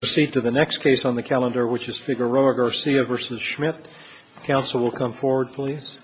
Proceed to the next case on the calendar, which is Figueroa-Garcia v. Schmitt. Counsel will come forward, please.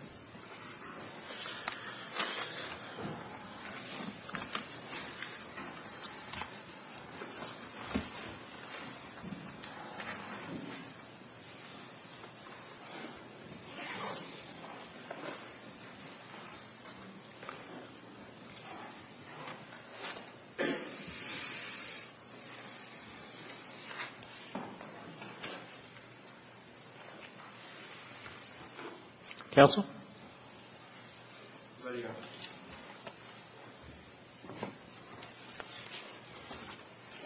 Counsel.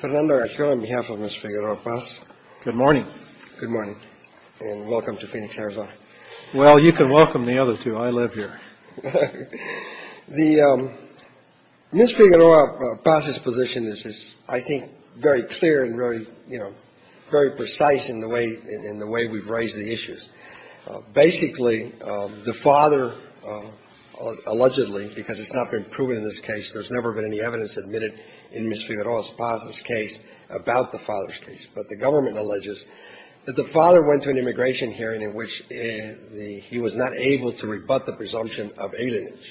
Fernando Ochoa, on behalf of Ms. Figueroa-Paz. Good morning. Good morning, and welcome to Phoenix, Arizona. Well, you can welcome the other two. I live here. The Ms. Figueroa-Paz's position is, I think, very clear and very, you know, very precise in the way we've raised the issues. Basically, the father allegedly, because it's not been proven in this case, there's never been any evidence admitted in Ms. Figueroa-Paz's case about the father's case. But the government alleges that the father went to an immigration hearing in which he was not able to rebut the presumption of alienage.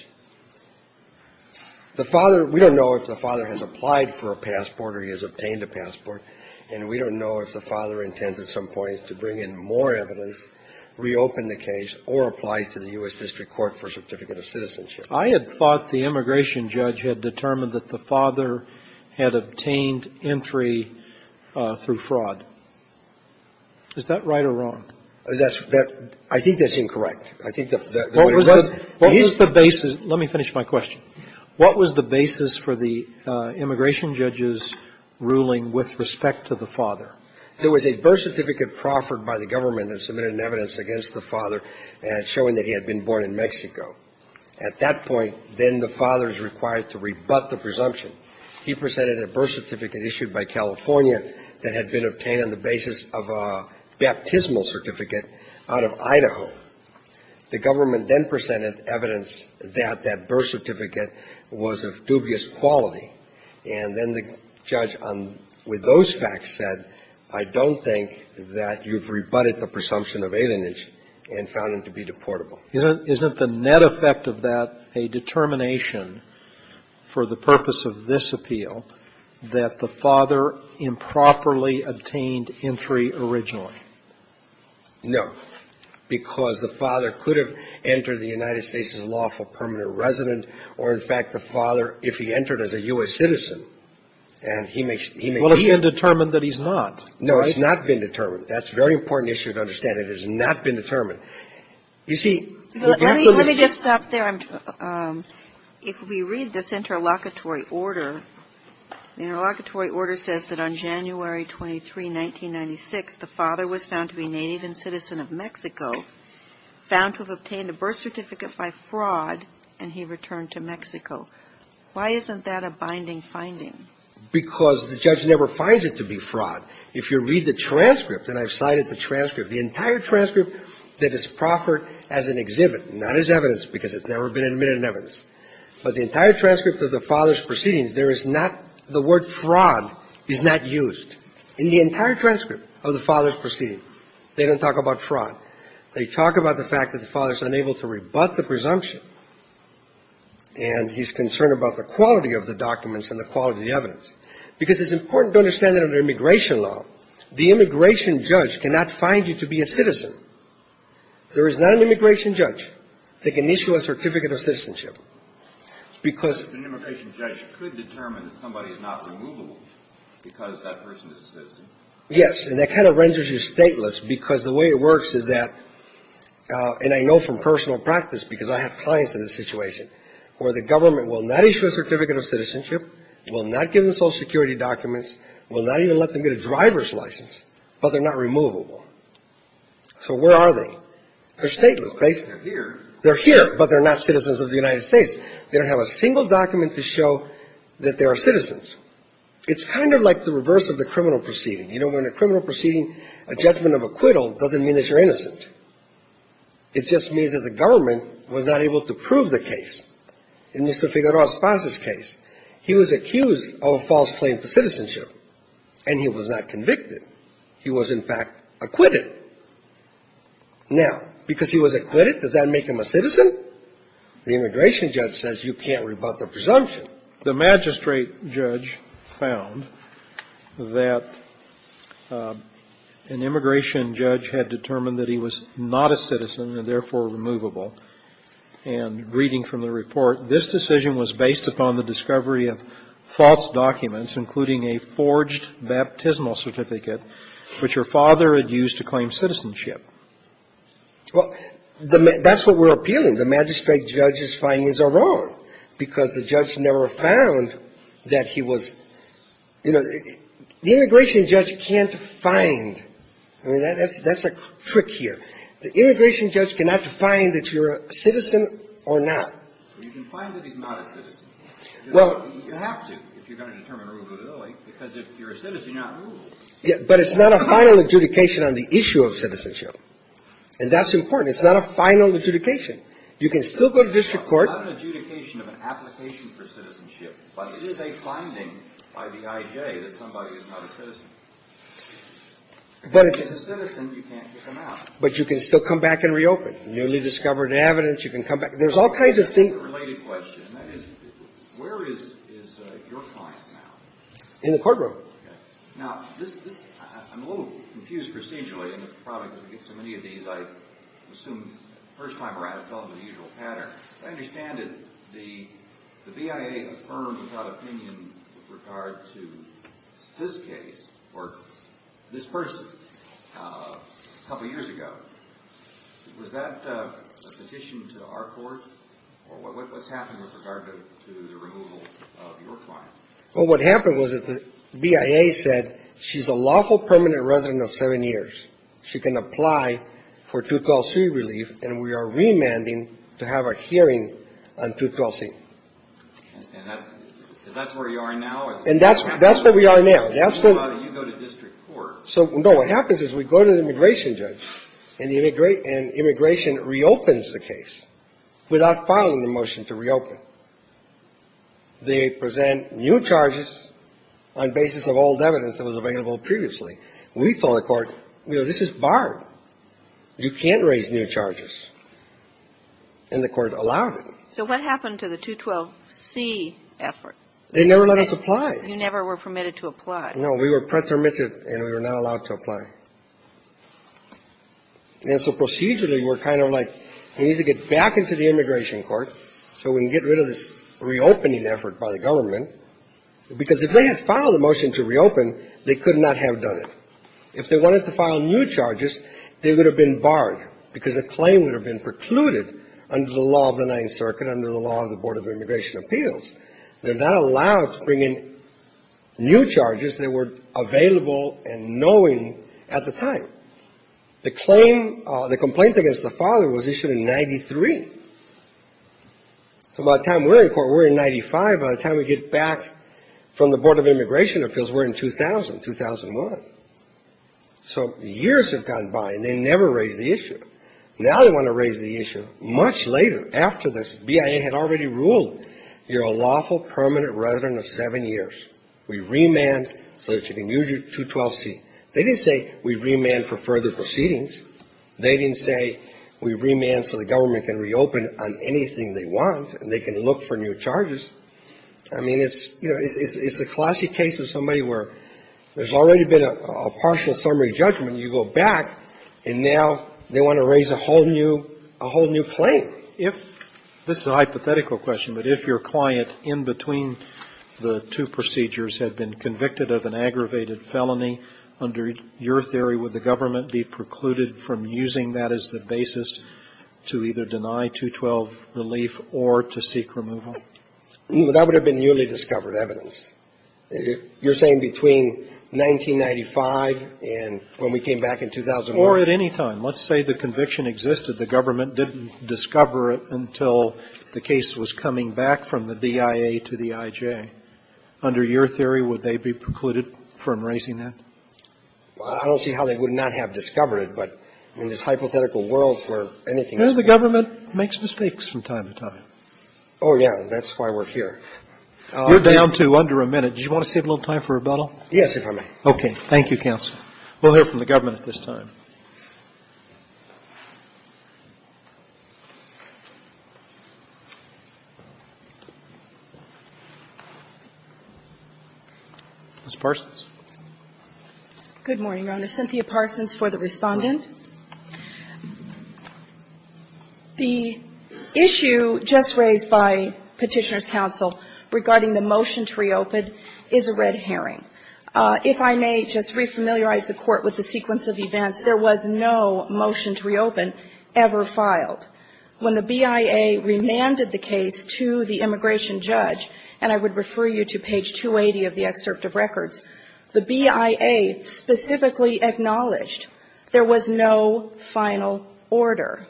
The father, we don't know if the father has applied for a passport or he has obtained a passport. And we don't know if the father intends at some point to bring in more evidence, reopen the case, or apply to the U.S. District Court for a certificate of citizenship. I had thought the immigration judge had determined that the father had obtained entry through fraud. Is that right or wrong? That's the – I think that's incorrect. I think the way it was – What was the basis – let me finish my question. What was the basis for the immigration judge's ruling with respect to the father? There was a birth certificate proffered by the government that submitted an evidence against the father showing that he had been born in Mexico. At that point, then the father is required to rebut the presumption. He presented a birth certificate issued by California that had been obtained on the basis of a baptismal certificate out of Idaho. The government then presented evidence that that birth certificate was of dubious quality. And then the judge, with those facts, said, I don't think that you've rebutted the presumption of alienation and found him to be deportable. Isn't the net effect of that a determination for the purpose of this appeal that the father improperly obtained entry originally? No. Because the father could have entered the United States as a lawful permanent resident or, in fact, the father, if he entered as a U.S. citizen. And he may – Well, if he had determined that he's not. No, it's not been determined. That's a very important issue to understand. It has not been determined. You see – Let me just stop there. If we read this interlocutory order, the interlocutory order says that on January 23, 1996, the father was found to be native and citizen of Mexico, found to have obtained a birth certificate by fraud, and he returned to Mexico. Why isn't that a binding finding? Because the judge never finds it to be fraud. If you read the transcript, and I've cited the transcript, the entire transcript that is proffered as an exhibit, not as evidence because it's never been admitted in evidence, but the entire transcript of the father's proceeding. They don't talk about fraud. They talk about the fact that the father's unable to rebut the presumption, and he's concerned about the quality of the documents and the quality of the evidence. Because it's important to understand that under immigration law, the immigration judge cannot find you to be a citizen. There is not an immigration judge that can issue a certificate of citizenship because – An immigration judge could determine that somebody is not removable because that person is a citizen. Yes. And that kind of renders you stateless because the way it works is that, and I know from personal practice because I have clients in this situation, where the government will not issue a certificate of citizenship, will not give them Social Security documents, will not even let them get a driver's license, but they're not removable. So where are they? They're stateless. They're here. They're here, but they're not citizens of the United States. They don't have a single document to show that they are citizens. It's kind of like the reverse of the criminal proceeding. You know, when a criminal proceeding, a judgment of acquittal, doesn't mean that you're innocent. It just means that the government was not able to prove the case. In Mr. Figueroa's father's case, he was accused of a false claim for citizenship, and he was not convicted. He was, in fact, acquitted. Now, because he was acquitted, does that make him a citizen? The immigration judge says you can't rebut the presumption. The magistrate judge found that an immigration judge had determined that he was not a citizen and, therefore, removable. And reading from the report, this decision was based upon the discovery of false documents, including a forged baptismal certificate, which your father had used to claim citizenship. Well, that's what we're appealing. The magistrate judge's findings are wrong, because the judge never found that he was, you know, the immigration judge can't find. I mean, that's a trick here. The immigration judge cannot define that you're a citizen or not. You can find that he's not a citizen. Well, you have to if you're going to determine a removability, because if you're a citizen, you're not removed. But it's not a final adjudication on the issue of citizenship. And that's important. It's not a final adjudication. You can still go to district court. It's not an adjudication of an application for citizenship, but it is a finding by the IJ that somebody is not a citizen. But it's a citizen, you can't kick him out. But you can still come back and reopen. Newly discovered evidence, you can come back. There's all kinds of things. That's a related question. That is, where is your client now? In the courtroom. Now, I'm a little confused procedurally. And it's probably because we get so many of these. I assume the first time around, it's probably the usual pattern. But I understand that the BIA affirmed without opinion with regard to this case or this person a couple years ago. Was that a petition to our court? Or what's happened with regard to the removal of your client? Well, what happened was that the BIA said she's a lawful permanent resident of seven years. She can apply for 212c relief, and we are remanding to have a hearing on 212c. And that's where you are now? And that's where we are now. That's where you go to district court. So, no, what happens is we go to the immigration judge, and the immigration reopens the case without filing the motion to reopen. They present new charges on basis of old evidence that was available previously. We told the court, you know, this is barred. You can't raise new charges. And the court allowed it. So what happened to the 212c effort? They never let us apply. You never were permitted to apply. No. We were pretermitted, and we were not allowed to apply. And so procedurally, we're kind of like, we need to get back into the immigration court so we can get rid of this reopening effort by the government. Because if they had filed a motion to reopen, they could not have done it. If they wanted to file new charges, they would have been barred because a claim would have been precluded under the law of the Ninth Circuit, under the law of the Board of Immigration Appeals. They're not allowed to bring in new charges that were available and knowing at the time. The complaint against the father was issued in 93. So by the time we're in court, we're in 95. By the time we get back from the Board of Immigration Appeals, we're in 2000, 2001. So years have gone by, and they never raised the issue. Now they want to raise the issue. Much later, after this, BIA had already ruled, you're a lawful permanent resident of seven years. We remand so that you can use your 212C. They didn't say, we remand for further proceedings. They didn't say, we remand so the government can reopen on anything they want and they can look for new charges. I mean, it's, you know, it's a classic case of somebody where there's already been a partial summary judgment. You go back, and now they want to raise a whole new claim. If this is a hypothetical question, but if your client in between the two procedures had been convicted of an aggravated felony, under your theory, would the government be precluded from using that as the basis to either deny 212 relief or to seek removal? That would have been newly discovered evidence. You're saying between 1995 and when we came back in 2001? Or at any time. Let's say the conviction existed. The government didn't discover it until the case was coming back from the BIA to the IJ. Under your theory, would they be precluded from raising that? I don't see how they would not have discovered it, but in this hypothetical world where anything is possible. The government makes mistakes from time to time. Oh, yeah. That's why we're here. You're down to under a minute. Do you want to save a little time for rebuttal? Yes, if I may. Okay. Thank you, counsel. We'll hear from the government at this time. Ms. Parsons. Good morning, Your Honor. Cynthia Parsons for the Respondent. The issue just raised by Petitioner's counsel regarding the motion to reopen is a red herring. If I may just re-familiarize the Court with the sequence of events, there was no motion to reopen ever filed. When the BIA remanded the case to the immigration judge, and I would refer you to page 11, there was no final order.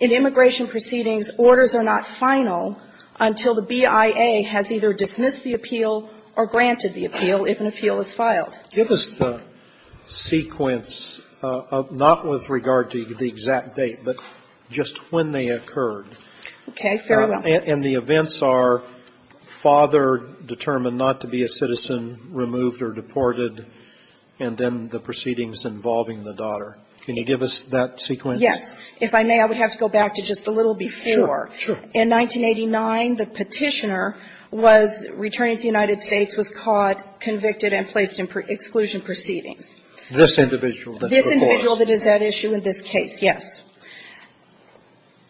In immigration proceedings, orders are not final until the BIA has either dismissed the appeal or granted the appeal if an appeal is filed. Give us the sequence, not with regard to the exact date, but just when they occurred. Okay. Very well. And the events are father determined not to be a citizen, removed or deported, and then the proceedings involving the daughter. Can you give us that sequence? Yes. If I may, I would have to go back to just a little before. Sure. Sure. In 1989, the Petitioner was returning to the United States, was caught, convicted, and placed in exclusion proceedings. This individual that's before us. This individual that is at issue in this case, yes.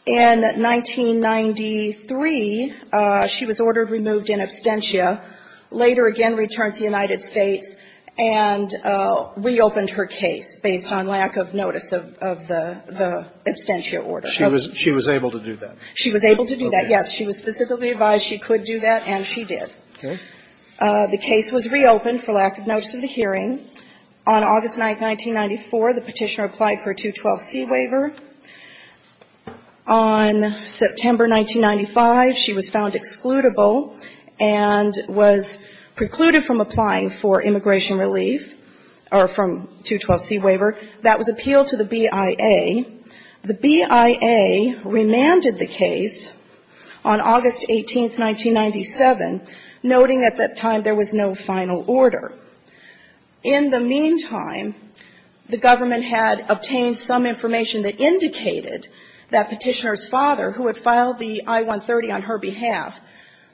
In 1993, she was ordered, removed in absentia, later again returned to the United States, and reopened her case based on lack of notice of the absentia order. She was able to do that. She was able to do that, yes. She was specifically advised she could do that, and she did. Okay. The case was reopened for lack of notice of the hearing. On August 9, 1994, the Petitioner applied for a 212C waiver. On September 1995, she was found excludable and was precluded from applying for immigration relief, or from 212C waiver. That was appealed to the BIA. The BIA remanded the case on August 18, 1997, noting at that time there was no final order. In the meantime, the government had obtained some information that indicated that Petitioner's father, who had filed the I-130 on her behalf,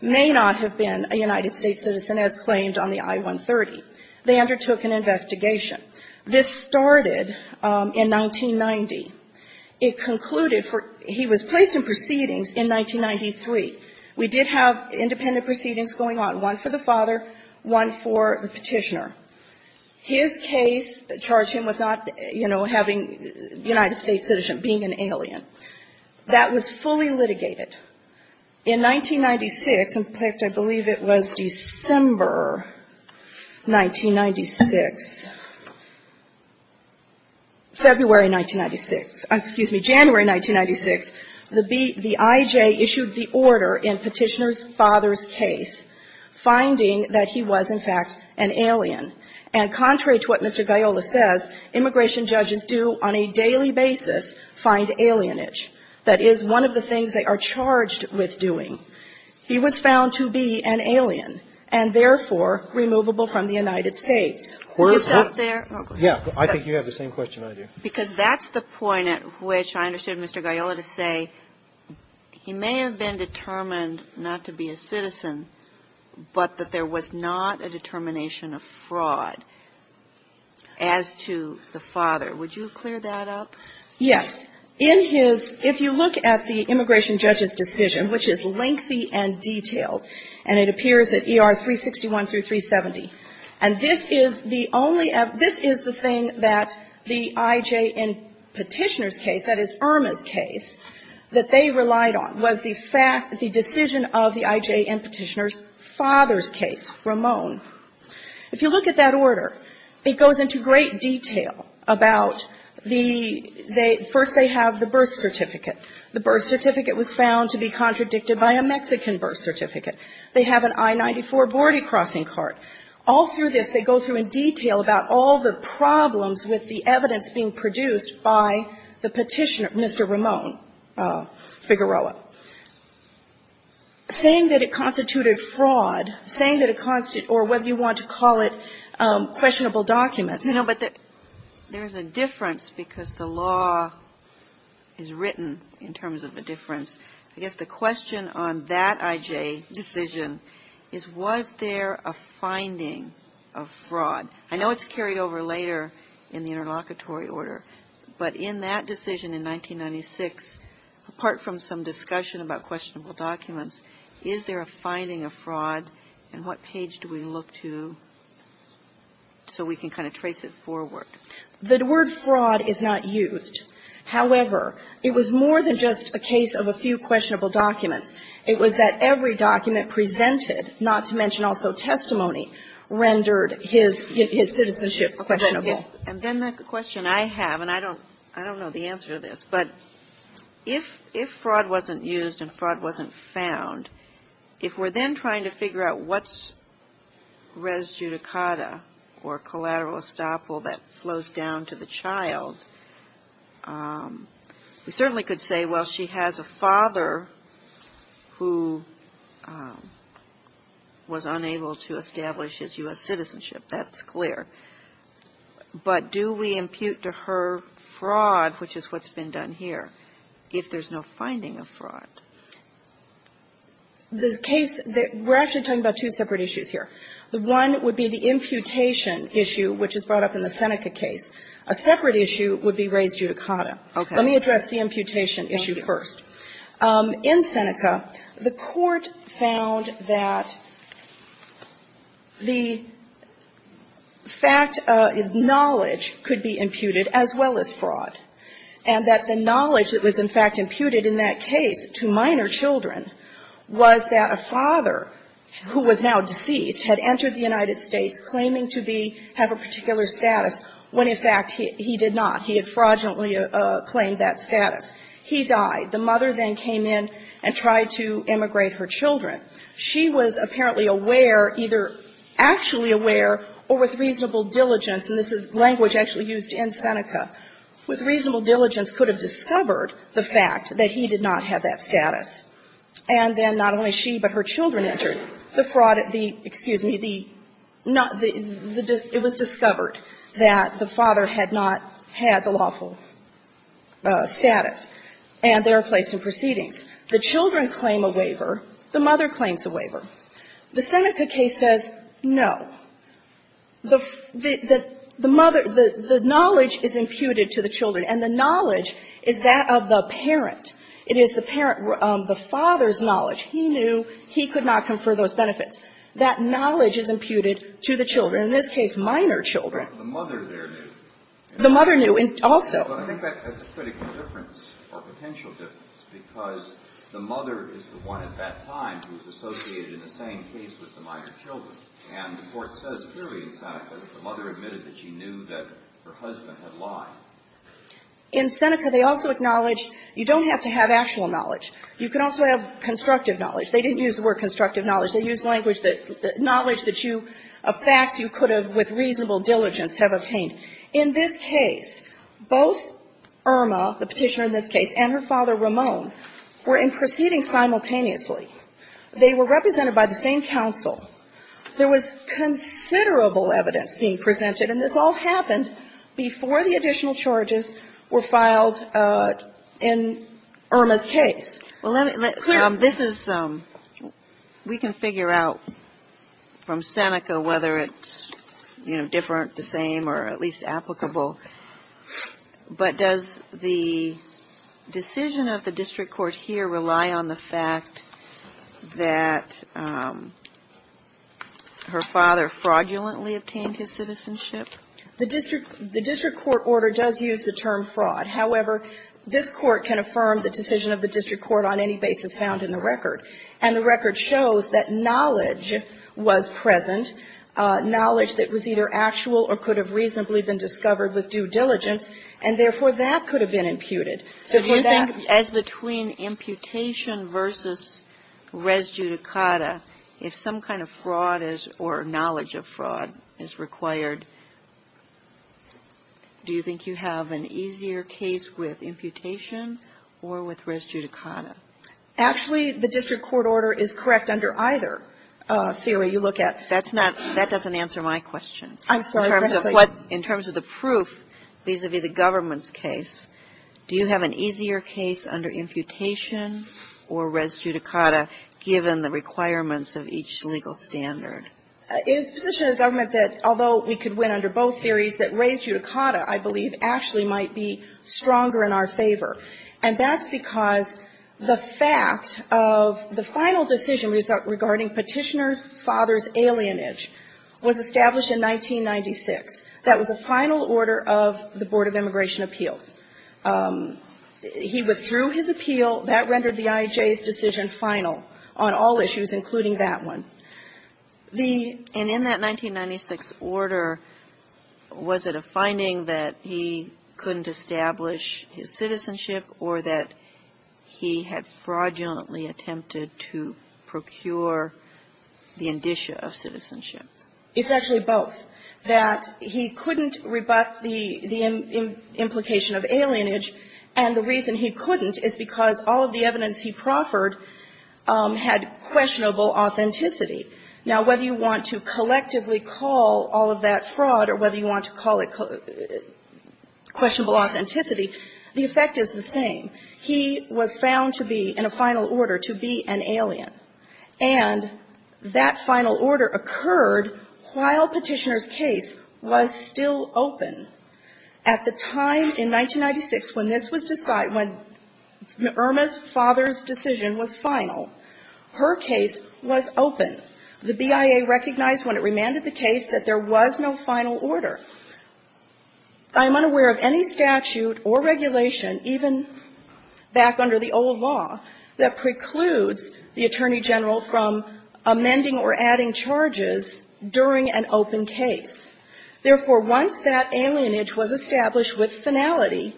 may not have been a United States citizen as claimed on the I-130. They undertook an investigation. This started in 1990. It concluded for he was placed in proceedings in 1993. We did have independent proceedings going on, one for the father, one for the Petitioner. His case charged him with not, you know, having United States citizenship, being an alien. That was fully litigated. In 1996, in fact, I believe it was December 1996, February 1996, excuse me, January 1996, the IJ issued the order in Petitioner's father's case finding that he was, in fact, an alien. And contrary to what Mr. Gaiola says, immigration judges do on a daily basis find alienage. That is one of the things they are charged with doing. He was found to be an alien and, therefore, removable from the United States. Can you stop there? Yeah. I think you have the same question I do. Because that's the point at which I understood Mr. Gaiola to say he may have been determined not to be a citizen but that there was not a determination of fraud as to the father. Would you clear that up? Yes. In his — if you look at the immigration judge's decision, which is lengthy and detailed, and it appears at ER 361 through 370, and this is the only — this is the thing that the IJ in Petitioner's case, that is, Irma's case, that they relied on was the decision of the IJ in Petitioner's father's case, Ramon. If you look at that order, it goes into great detail about the — first they have the birth certificate. The birth certificate was found to be contradicted by a Mexican birth certificate. They have an I-94 boarded crossing card. All through this, they go through in detail about all the problems with the evidence being produced by the Petitioner, Mr. Ramon Figueroa, saying that it constituted fraud, saying that it constituted — or whether you want to call it questionable documents. You know, but there's a difference because the law is written in terms of the difference. I guess the question on that IJ decision is, was there a finding of fraud? I know it's carried over later in the interlocutory order, but in that decision in 1996, apart from some discussion about questionable documents, is there a finding of fraud, and what page do we look to so we can kind of trace it forward? The word fraud is not used. However, it was more than just a case of a few questionable documents. It was that every document presented, not to mention also testimony, rendered his citizenship questionable. And then the question I have, and I don't know the answer to this, but if fraud wasn't used and fraud wasn't found, if we're then trying to figure out what's res judicata or collateral estoppel that flows down to the child, we certainly could say, well, she has a father who was unable to establish his U.S. citizenship. That's clear. But do we impute to her fraud, which is what's been done here, if there's no finding of fraud? The case that we're actually talking about two separate issues here. One would be the imputation issue, which is brought up in the Seneca case. A separate issue would be res judicata. Let me address the imputation issue first. In Seneca, the Court found that the fact of knowledge could be imputed as well as fraud, and that the knowledge that was in fact imputed in that case to minor children was that a father who was now deceased had entered the United States claiming to be, have a particular status, when in fact he did not. He had fraudulently claimed that status. He died. The mother then came in and tried to immigrate her children. She was apparently aware, either actually aware or with reasonable diligence and this is language actually used in Seneca, with reasonable diligence could have discovered the fact that he did not have that status. And then not only she, but her children entered the fraud at the, excuse me, the it was discovered that the father had not had the lawful status, and they were placed in proceedings. The children claim a waiver. The mother claims a waiver. The Seneca case says no. The mother, the knowledge is imputed to the children, and the knowledge is that of the parent. It is the parent, the father's knowledge. He knew he could not confer those benefits. That knowledge is imputed to the children, in this case minor children. The mother there knew. The mother knew also. But I think that's a critical difference or potential difference, because the mother is the one at that time who is associated in the same case with the minor children. And the Court says clearly in Seneca that the mother admitted that she knew that her husband had lied. In Seneca, they also acknowledge you don't have to have actual knowledge. You can also have constructive knowledge. They didn't use the word constructive knowledge. They used language that the knowledge that you of facts you could have with reasonable diligence have obtained. In this case, both Irma, the Petitioner in this case, and her father, Ramon, were in proceedings simultaneously. They were represented by the same counsel. There was considerable evidence being presented, and this all happened before the additional charges were filed in Irma's case. We can figure out from Seneca whether it's, you know, different, the same, or at least applicable. But does the decision of the district court here rely on the fact that her father fraudulently obtained his citizenship? The district court order does use the term fraud. However, this Court can affirm the decision of the district court on any basis found in the record. And the record shows that knowledge was present, knowledge that was either actual or could have reasonably been discovered with due diligence, and therefore, that could have been imputed. The point is that as between imputation versus res judicata, if some kind of fraud is, or knowledge of fraud is required, do you think you have an easier case with imputation or with res judicata? Actually, the district court order is correct under either theory you look at. That's not, that doesn't answer my question. I'm sorry. In terms of the proof vis-à-vis the government's case, do you have an easier case under imputation or res judicata, given the requirements of each legal standard? It is the position of the government that although we could win under both theories, that res judicata, I believe, actually might be stronger in our favor. And that's because the fact of the final decision regarding Petitioner's father's alienage was established in 1996. That was the final order of the Board of Immigration Appeals. He withdrew his appeal. That rendered the IJ's decision final on all issues, including that one. The — And in that 1996 order, was it a finding that he couldn't establish his citizenship or that he had fraudulently attempted to procure the indicia of citizenship? It's actually both, that he couldn't rebut the implication of alienage, and the reason he couldn't is because all of the evidence he proffered had questionable authenticity. Now, whether you want to collectively call all of that fraud or whether you want to call it questionable authenticity, the effect is the same. He was found to be in a final order to be an alien. And that final order occurred while Petitioner's case was still open. At the time in 1996 when this was decided, when Irma's father's decision was final, her case was open. The BIA recognized when it remanded the case that there was no final order. I'm unaware of any statute or regulation, even back under the old law, that precludes the Attorney General from amending or adding charges during an open case. Therefore, once that alienage was established with finality,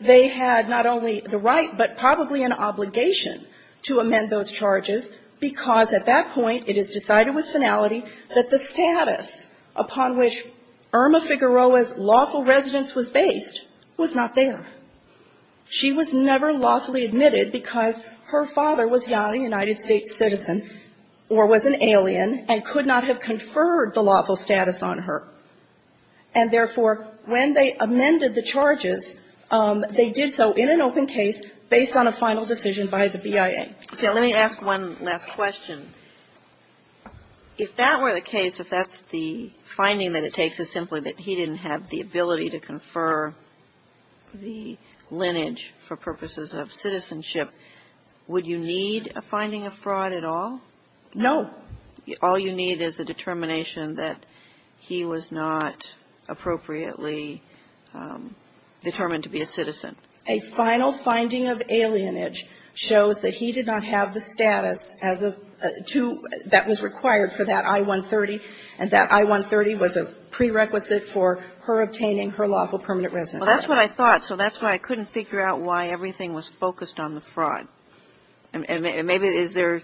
they had not only the right but probably an obligation to amend those charges, because at that point it is decided with finality that the status upon which Irma Figueroa's lawful residence was based was not there. She was never lawfully admitted because her father was not a United States citizen or was an alien and could not have conferred the lawful status on her. And therefore, when they amended the charges, they did so in an open case based on a final decision by the BIA. So let me ask one last question. If that were the case, if that's the finding that it takes is simply that he didn't have the ability to confer the lineage for purposes of citizenship, would you need a finding of fraud at all? No. All you need is a determination that he was not appropriately determined to be a citizen. A final finding of alienage shows that he did not have the status as a two that was prerequisite for her obtaining her lawful permanent residence. Well, that's what I thought. So that's why I couldn't figure out why everything was focused on the fraud. And maybe is there,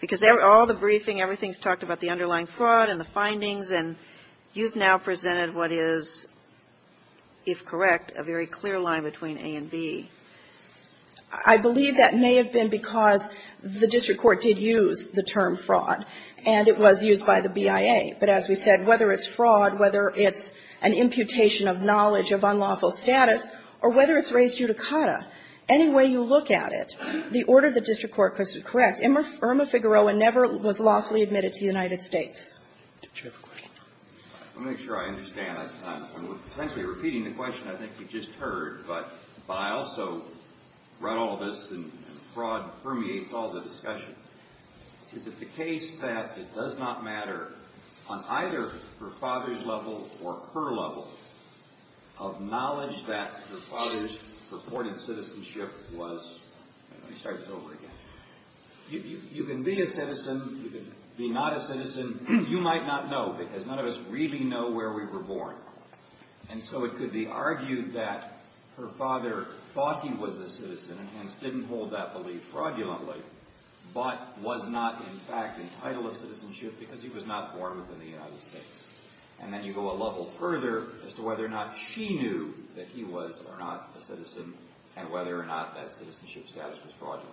because all the briefing, everything's talked about the underlying fraud and the findings, and you've now presented what is, if correct, a very clear line between A and B. I believe that may have been because the district court did use the term fraud, and it was used by the BIA. But as we said, whether it's fraud, whether it's an imputation of knowledge of unlawful status, or whether it's raised judicata, any way you look at it, the order of the district court, because if correct, Irma Figueroa never was lawfully admitted to the United States. Let me make sure I understand. I'm essentially repeating the question I think you just heard, but I also run all this, and fraud permeates all the discussion. Is it the case that it does not matter on either her father's level or her level of knowledge that her father's purported citizenship was? Let me start this over again. You can be a citizen. You can be not a citizen. You might not know, because none of us really know where we were born. And so it could be argued that her father thought he was a citizen and hence was not, in fact, entitled to citizenship because he was not born within the United States. And then you go a level further as to whether or not she knew that he was or not a citizen and whether or not that citizenship status was fraudulent.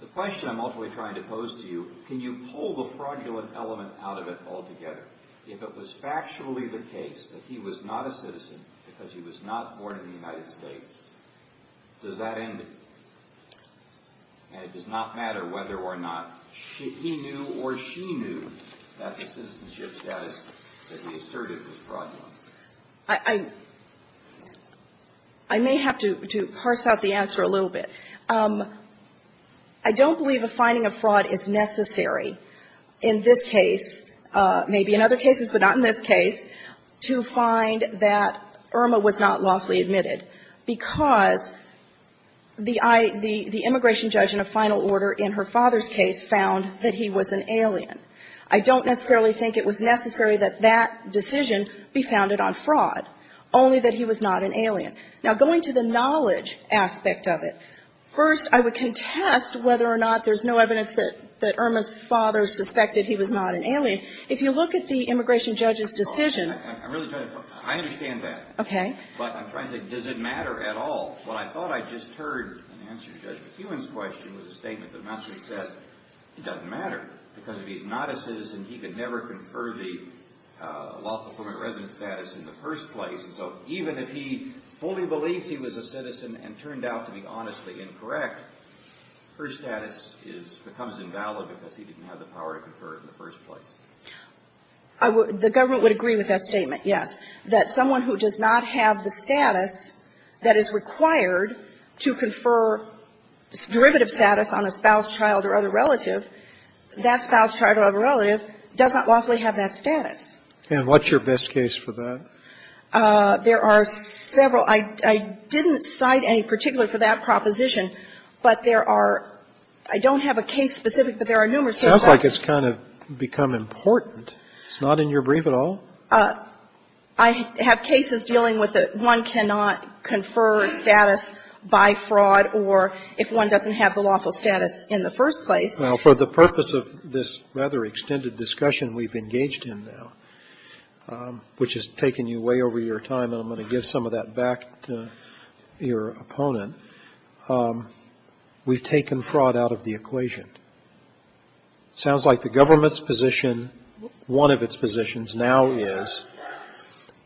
The question I'm ultimately trying to pose to you, can you pull the fraudulent element out of it altogether? If it was factually the case that he was not a citizen because he was not born in the United States, does that end it? And it does not matter whether or not he knew or she knew that the citizenship status that he asserted was fraudulent. I may have to parse out the answer a little bit. I don't believe a finding of fraud is necessary in this case, maybe in other cases, but not in this case, to find that Irma was not lawfully admitted, because the immigration judge in a final order in her father's case found that he was an alien. I don't necessarily think it was necessary that that decision be founded on fraud, only that he was not an alien. Now, going to the knowledge aspect of it, first I would contest whether or not there's no evidence that Irma's father suspected he was not an alien. If you look at the immigration judge's decision — I understand that. Okay. But I'm trying to say, does it matter at all? What I thought I just heard in answer to Judge McEwen's question was a statement that Mastry said it doesn't matter, because if he's not a citizen, he could never confer the lawful permanent resident status in the first place. And so even if he fully believed he was a citizen and turned out to be honestly incorrect, her status becomes invalid because he didn't have the power to confer it in the first place. The government would agree with that statement, yes, that someone who does not have the status that is required to confer derivative status on a spouse, child, or other relative, that spouse, child, or other relative does not lawfully have that status. And what's your best case for that? There are several. I didn't cite any particular for that proposition, but there are — I don't have a case specific, but there are numerous cases. It sounds like it's kind of become important. It's not in your brief at all? Well, I have cases dealing with that one cannot confer status by fraud or if one doesn't have the lawful status in the first place. Well, for the purpose of this rather extended discussion we've engaged in now, which has taken you way over your time, and I'm going to give some of that back to your opponent, we've taken fraud out of the equation. It sounds like the government's position, one of its positions now is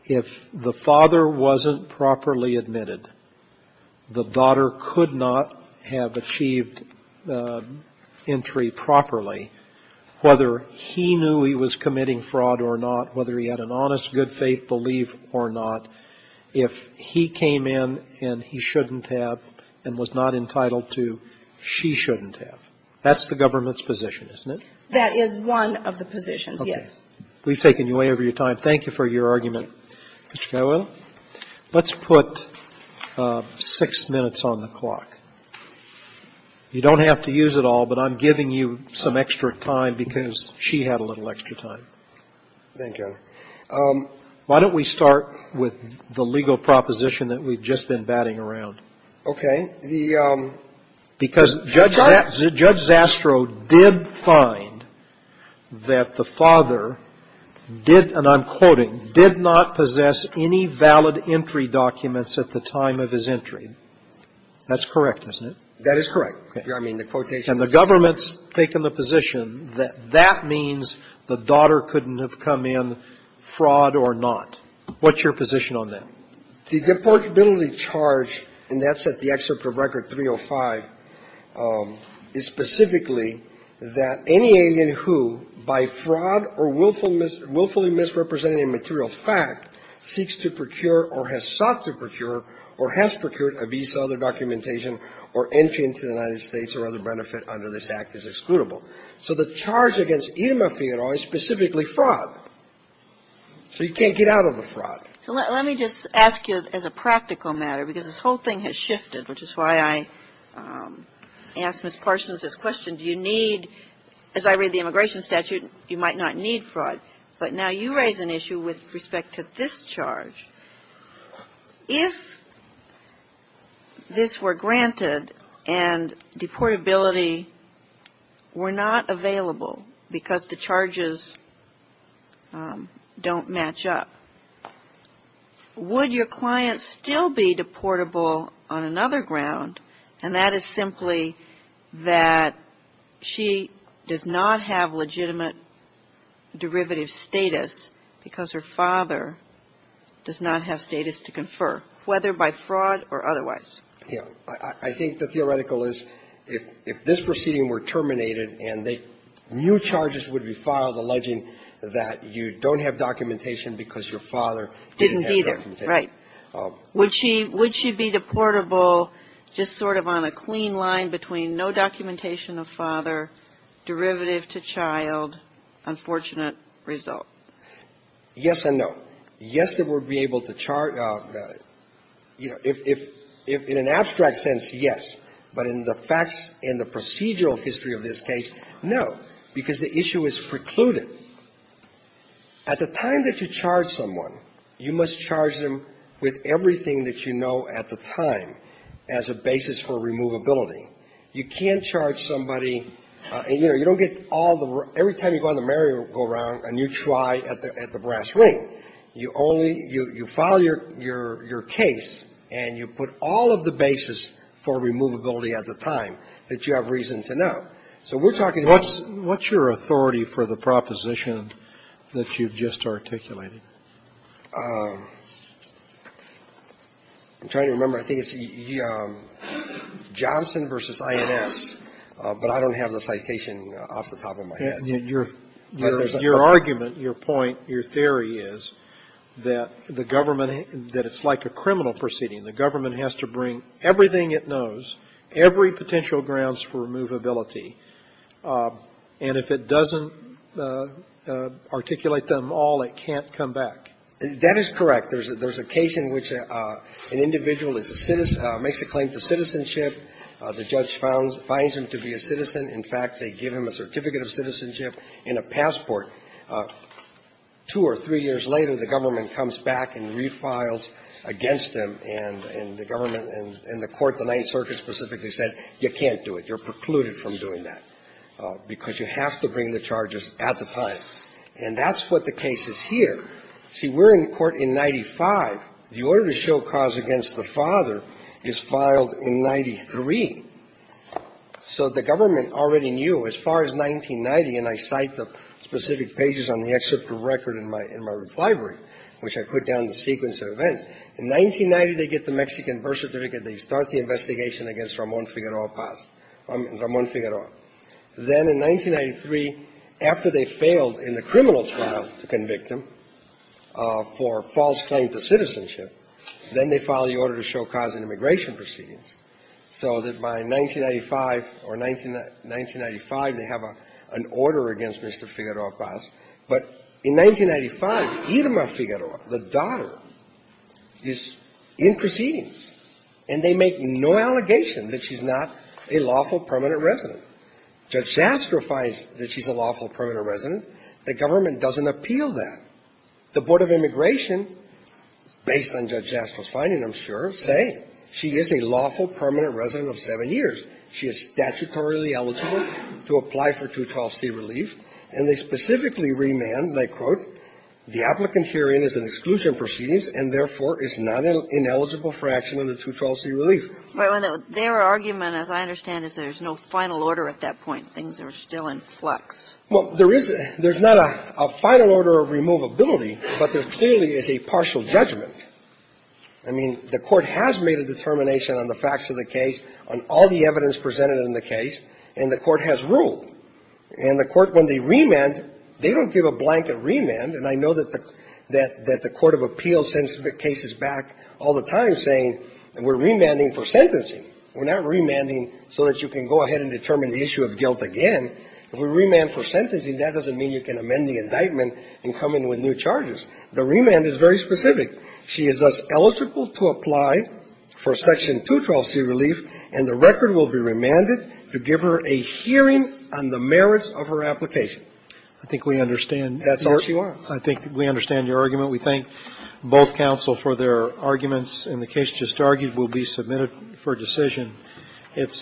if the father wasn't properly admitted, the daughter could not have achieved entry properly, whether he knew he was committing fraud or not, whether he had an honest, good-faith belief or not, if he came in and he shouldn't have and was not entitled to, she shouldn't have. That's the government's position, isn't it? That is one of the positions, yes. Okay. We've taken you way over your time. Thank you for your argument, Mr. Cadwell. Let's put six minutes on the clock. You don't have to use it all, but I'm giving you some extra time because she had a little extra time. Thank you. Why don't we start with the legal proposition that we've just been batting around? Okay. And the charge? Because Judge Zastrow did find that the father did, and I'm quoting, did not possess any valid entry documents at the time of his entry. That's correct, isn't it? That is correct. Okay. I mean, the quotation. And the government's taken the position that that means the daughter couldn't have come in, fraud or not. What's your position on that? The deportability charge, and that's at the excerpt of Record 305, is specifically that any alien who, by fraud or willfully misrepresenting a material fact, seeks to procure or has sought to procure or has procured a visa, other documentation, or entry into the United States or other benefit under this Act is excludable. So the charge against Itama Fioroi is specifically fraud. So you can't get out of a fraud. So let me just ask you as a practical matter, because this whole thing has shifted, which is why I asked Ms. Parsons this question, do you need, as I read the immigration statute, you might not need fraud. But now you raise an issue with respect to this charge. If this were granted and deportability were not available because the charges don't match up, would your client still be deportable on another ground, and that is not have status to confer, whether by fraud or otherwise? Yeah. I think the theoretical is if this proceeding were terminated and new charges would be filed alleging that you don't have documentation because your father didn't have documentation. Didn't either, right. Would she be deportable just sort of on a clean line between no documentation of father, derivative to child, unfortunate result? Yes and no. Yes, they would be able to charge. You know, in an abstract sense, yes. But in the facts and the procedural history of this case, no, because the issue is precluded. At the time that you charge someone, you must charge them with everything that you know at the time as a basis for removability. You can't charge somebody and, you know, you don't get all the room. Every time you go on the merry-go-round and you try at the brass ring. You only you file your case and you put all of the basis for removability at the time that you have reason to know. So we're talking about. What's your authority for the proposition that you've just articulated? I'm trying to remember. I think it's Johnson v. INS, but I don't have the citation off the top of my head. Your argument, your point, your theory is that the government, that it's like a criminal proceeding. The government has to bring everything it knows, every potential grounds for removability, and if it doesn't articulate them all, it can't come back. That is correct. There's a case in which an individual is a citizen, makes a claim to citizenship. The judge finds him to be a citizen. In fact, they give him a certificate of citizenship and a passport. Two or three years later, the government comes back and refiles against them and the government and the court, the Ninth Circuit specifically said, you can't do it. You're precluded from doing that because you have to bring the charges at the time. And that's what the case is here. See, we're in court in 95. The order to show cause against the father is filed in 93. So the government already knew. As far as 1990, and I cite the specific pages on the excerpt of record in my, in my reply brief, which I put down the sequence of events. In 1990, they get the Mexican birth certificate. They start the investigation against Ramon Figueroa Paz, Ramon Figueroa. Then in 1993, after they failed in the criminal trial to convict him for false claim to citizenship, then they file the order to show cause in immigration proceedings. So that by 1995, or 1995, they have an order against Mr. Figueroa Paz. But in 1995, Irma Figueroa, the daughter, is in proceedings, and they make no allegation that she's not a lawful permanent resident. Judge Jastrow finds that she's a lawful permanent resident. The government doesn't appeal that. The Board of Immigration, based on Judge Jastrow's finding, I'm sure, say she is a lawful permanent resident of 7 years. She is statutorily eligible to apply for 212c relief. And they specifically remand, and I quote, the applicant herein is in exclusion proceedings and, therefore, is not an ineligible for action under 212c relief. Right. Their argument, as I understand it, is there's no final order at that point. Things are still in flux. Well, there is. There's not a final order of removability, but there clearly is a partial judgment. I mean, the Court has made a determination on the facts of the case, on all the evidence presented in the case, and the Court has ruled. And the Court, when they remand, they don't give a blanket remand. And I know that the Court of Appeals sends cases back all the time saying we're remanding for sentencing. We're not remanding so that you can go ahead and determine the issue of guilt again. If we remand for sentencing, that doesn't mean you can amend the indictment and come in with new charges. The remand is very specific. She is thus eligible to apply for Section 212c relief, and the record will be remanded to give her a hearing on the merits of her application. I think we understand. That's all she wants. I think we understand your argument. We thank both counsel for their arguments, and the case just argued will be submitted for decision. It's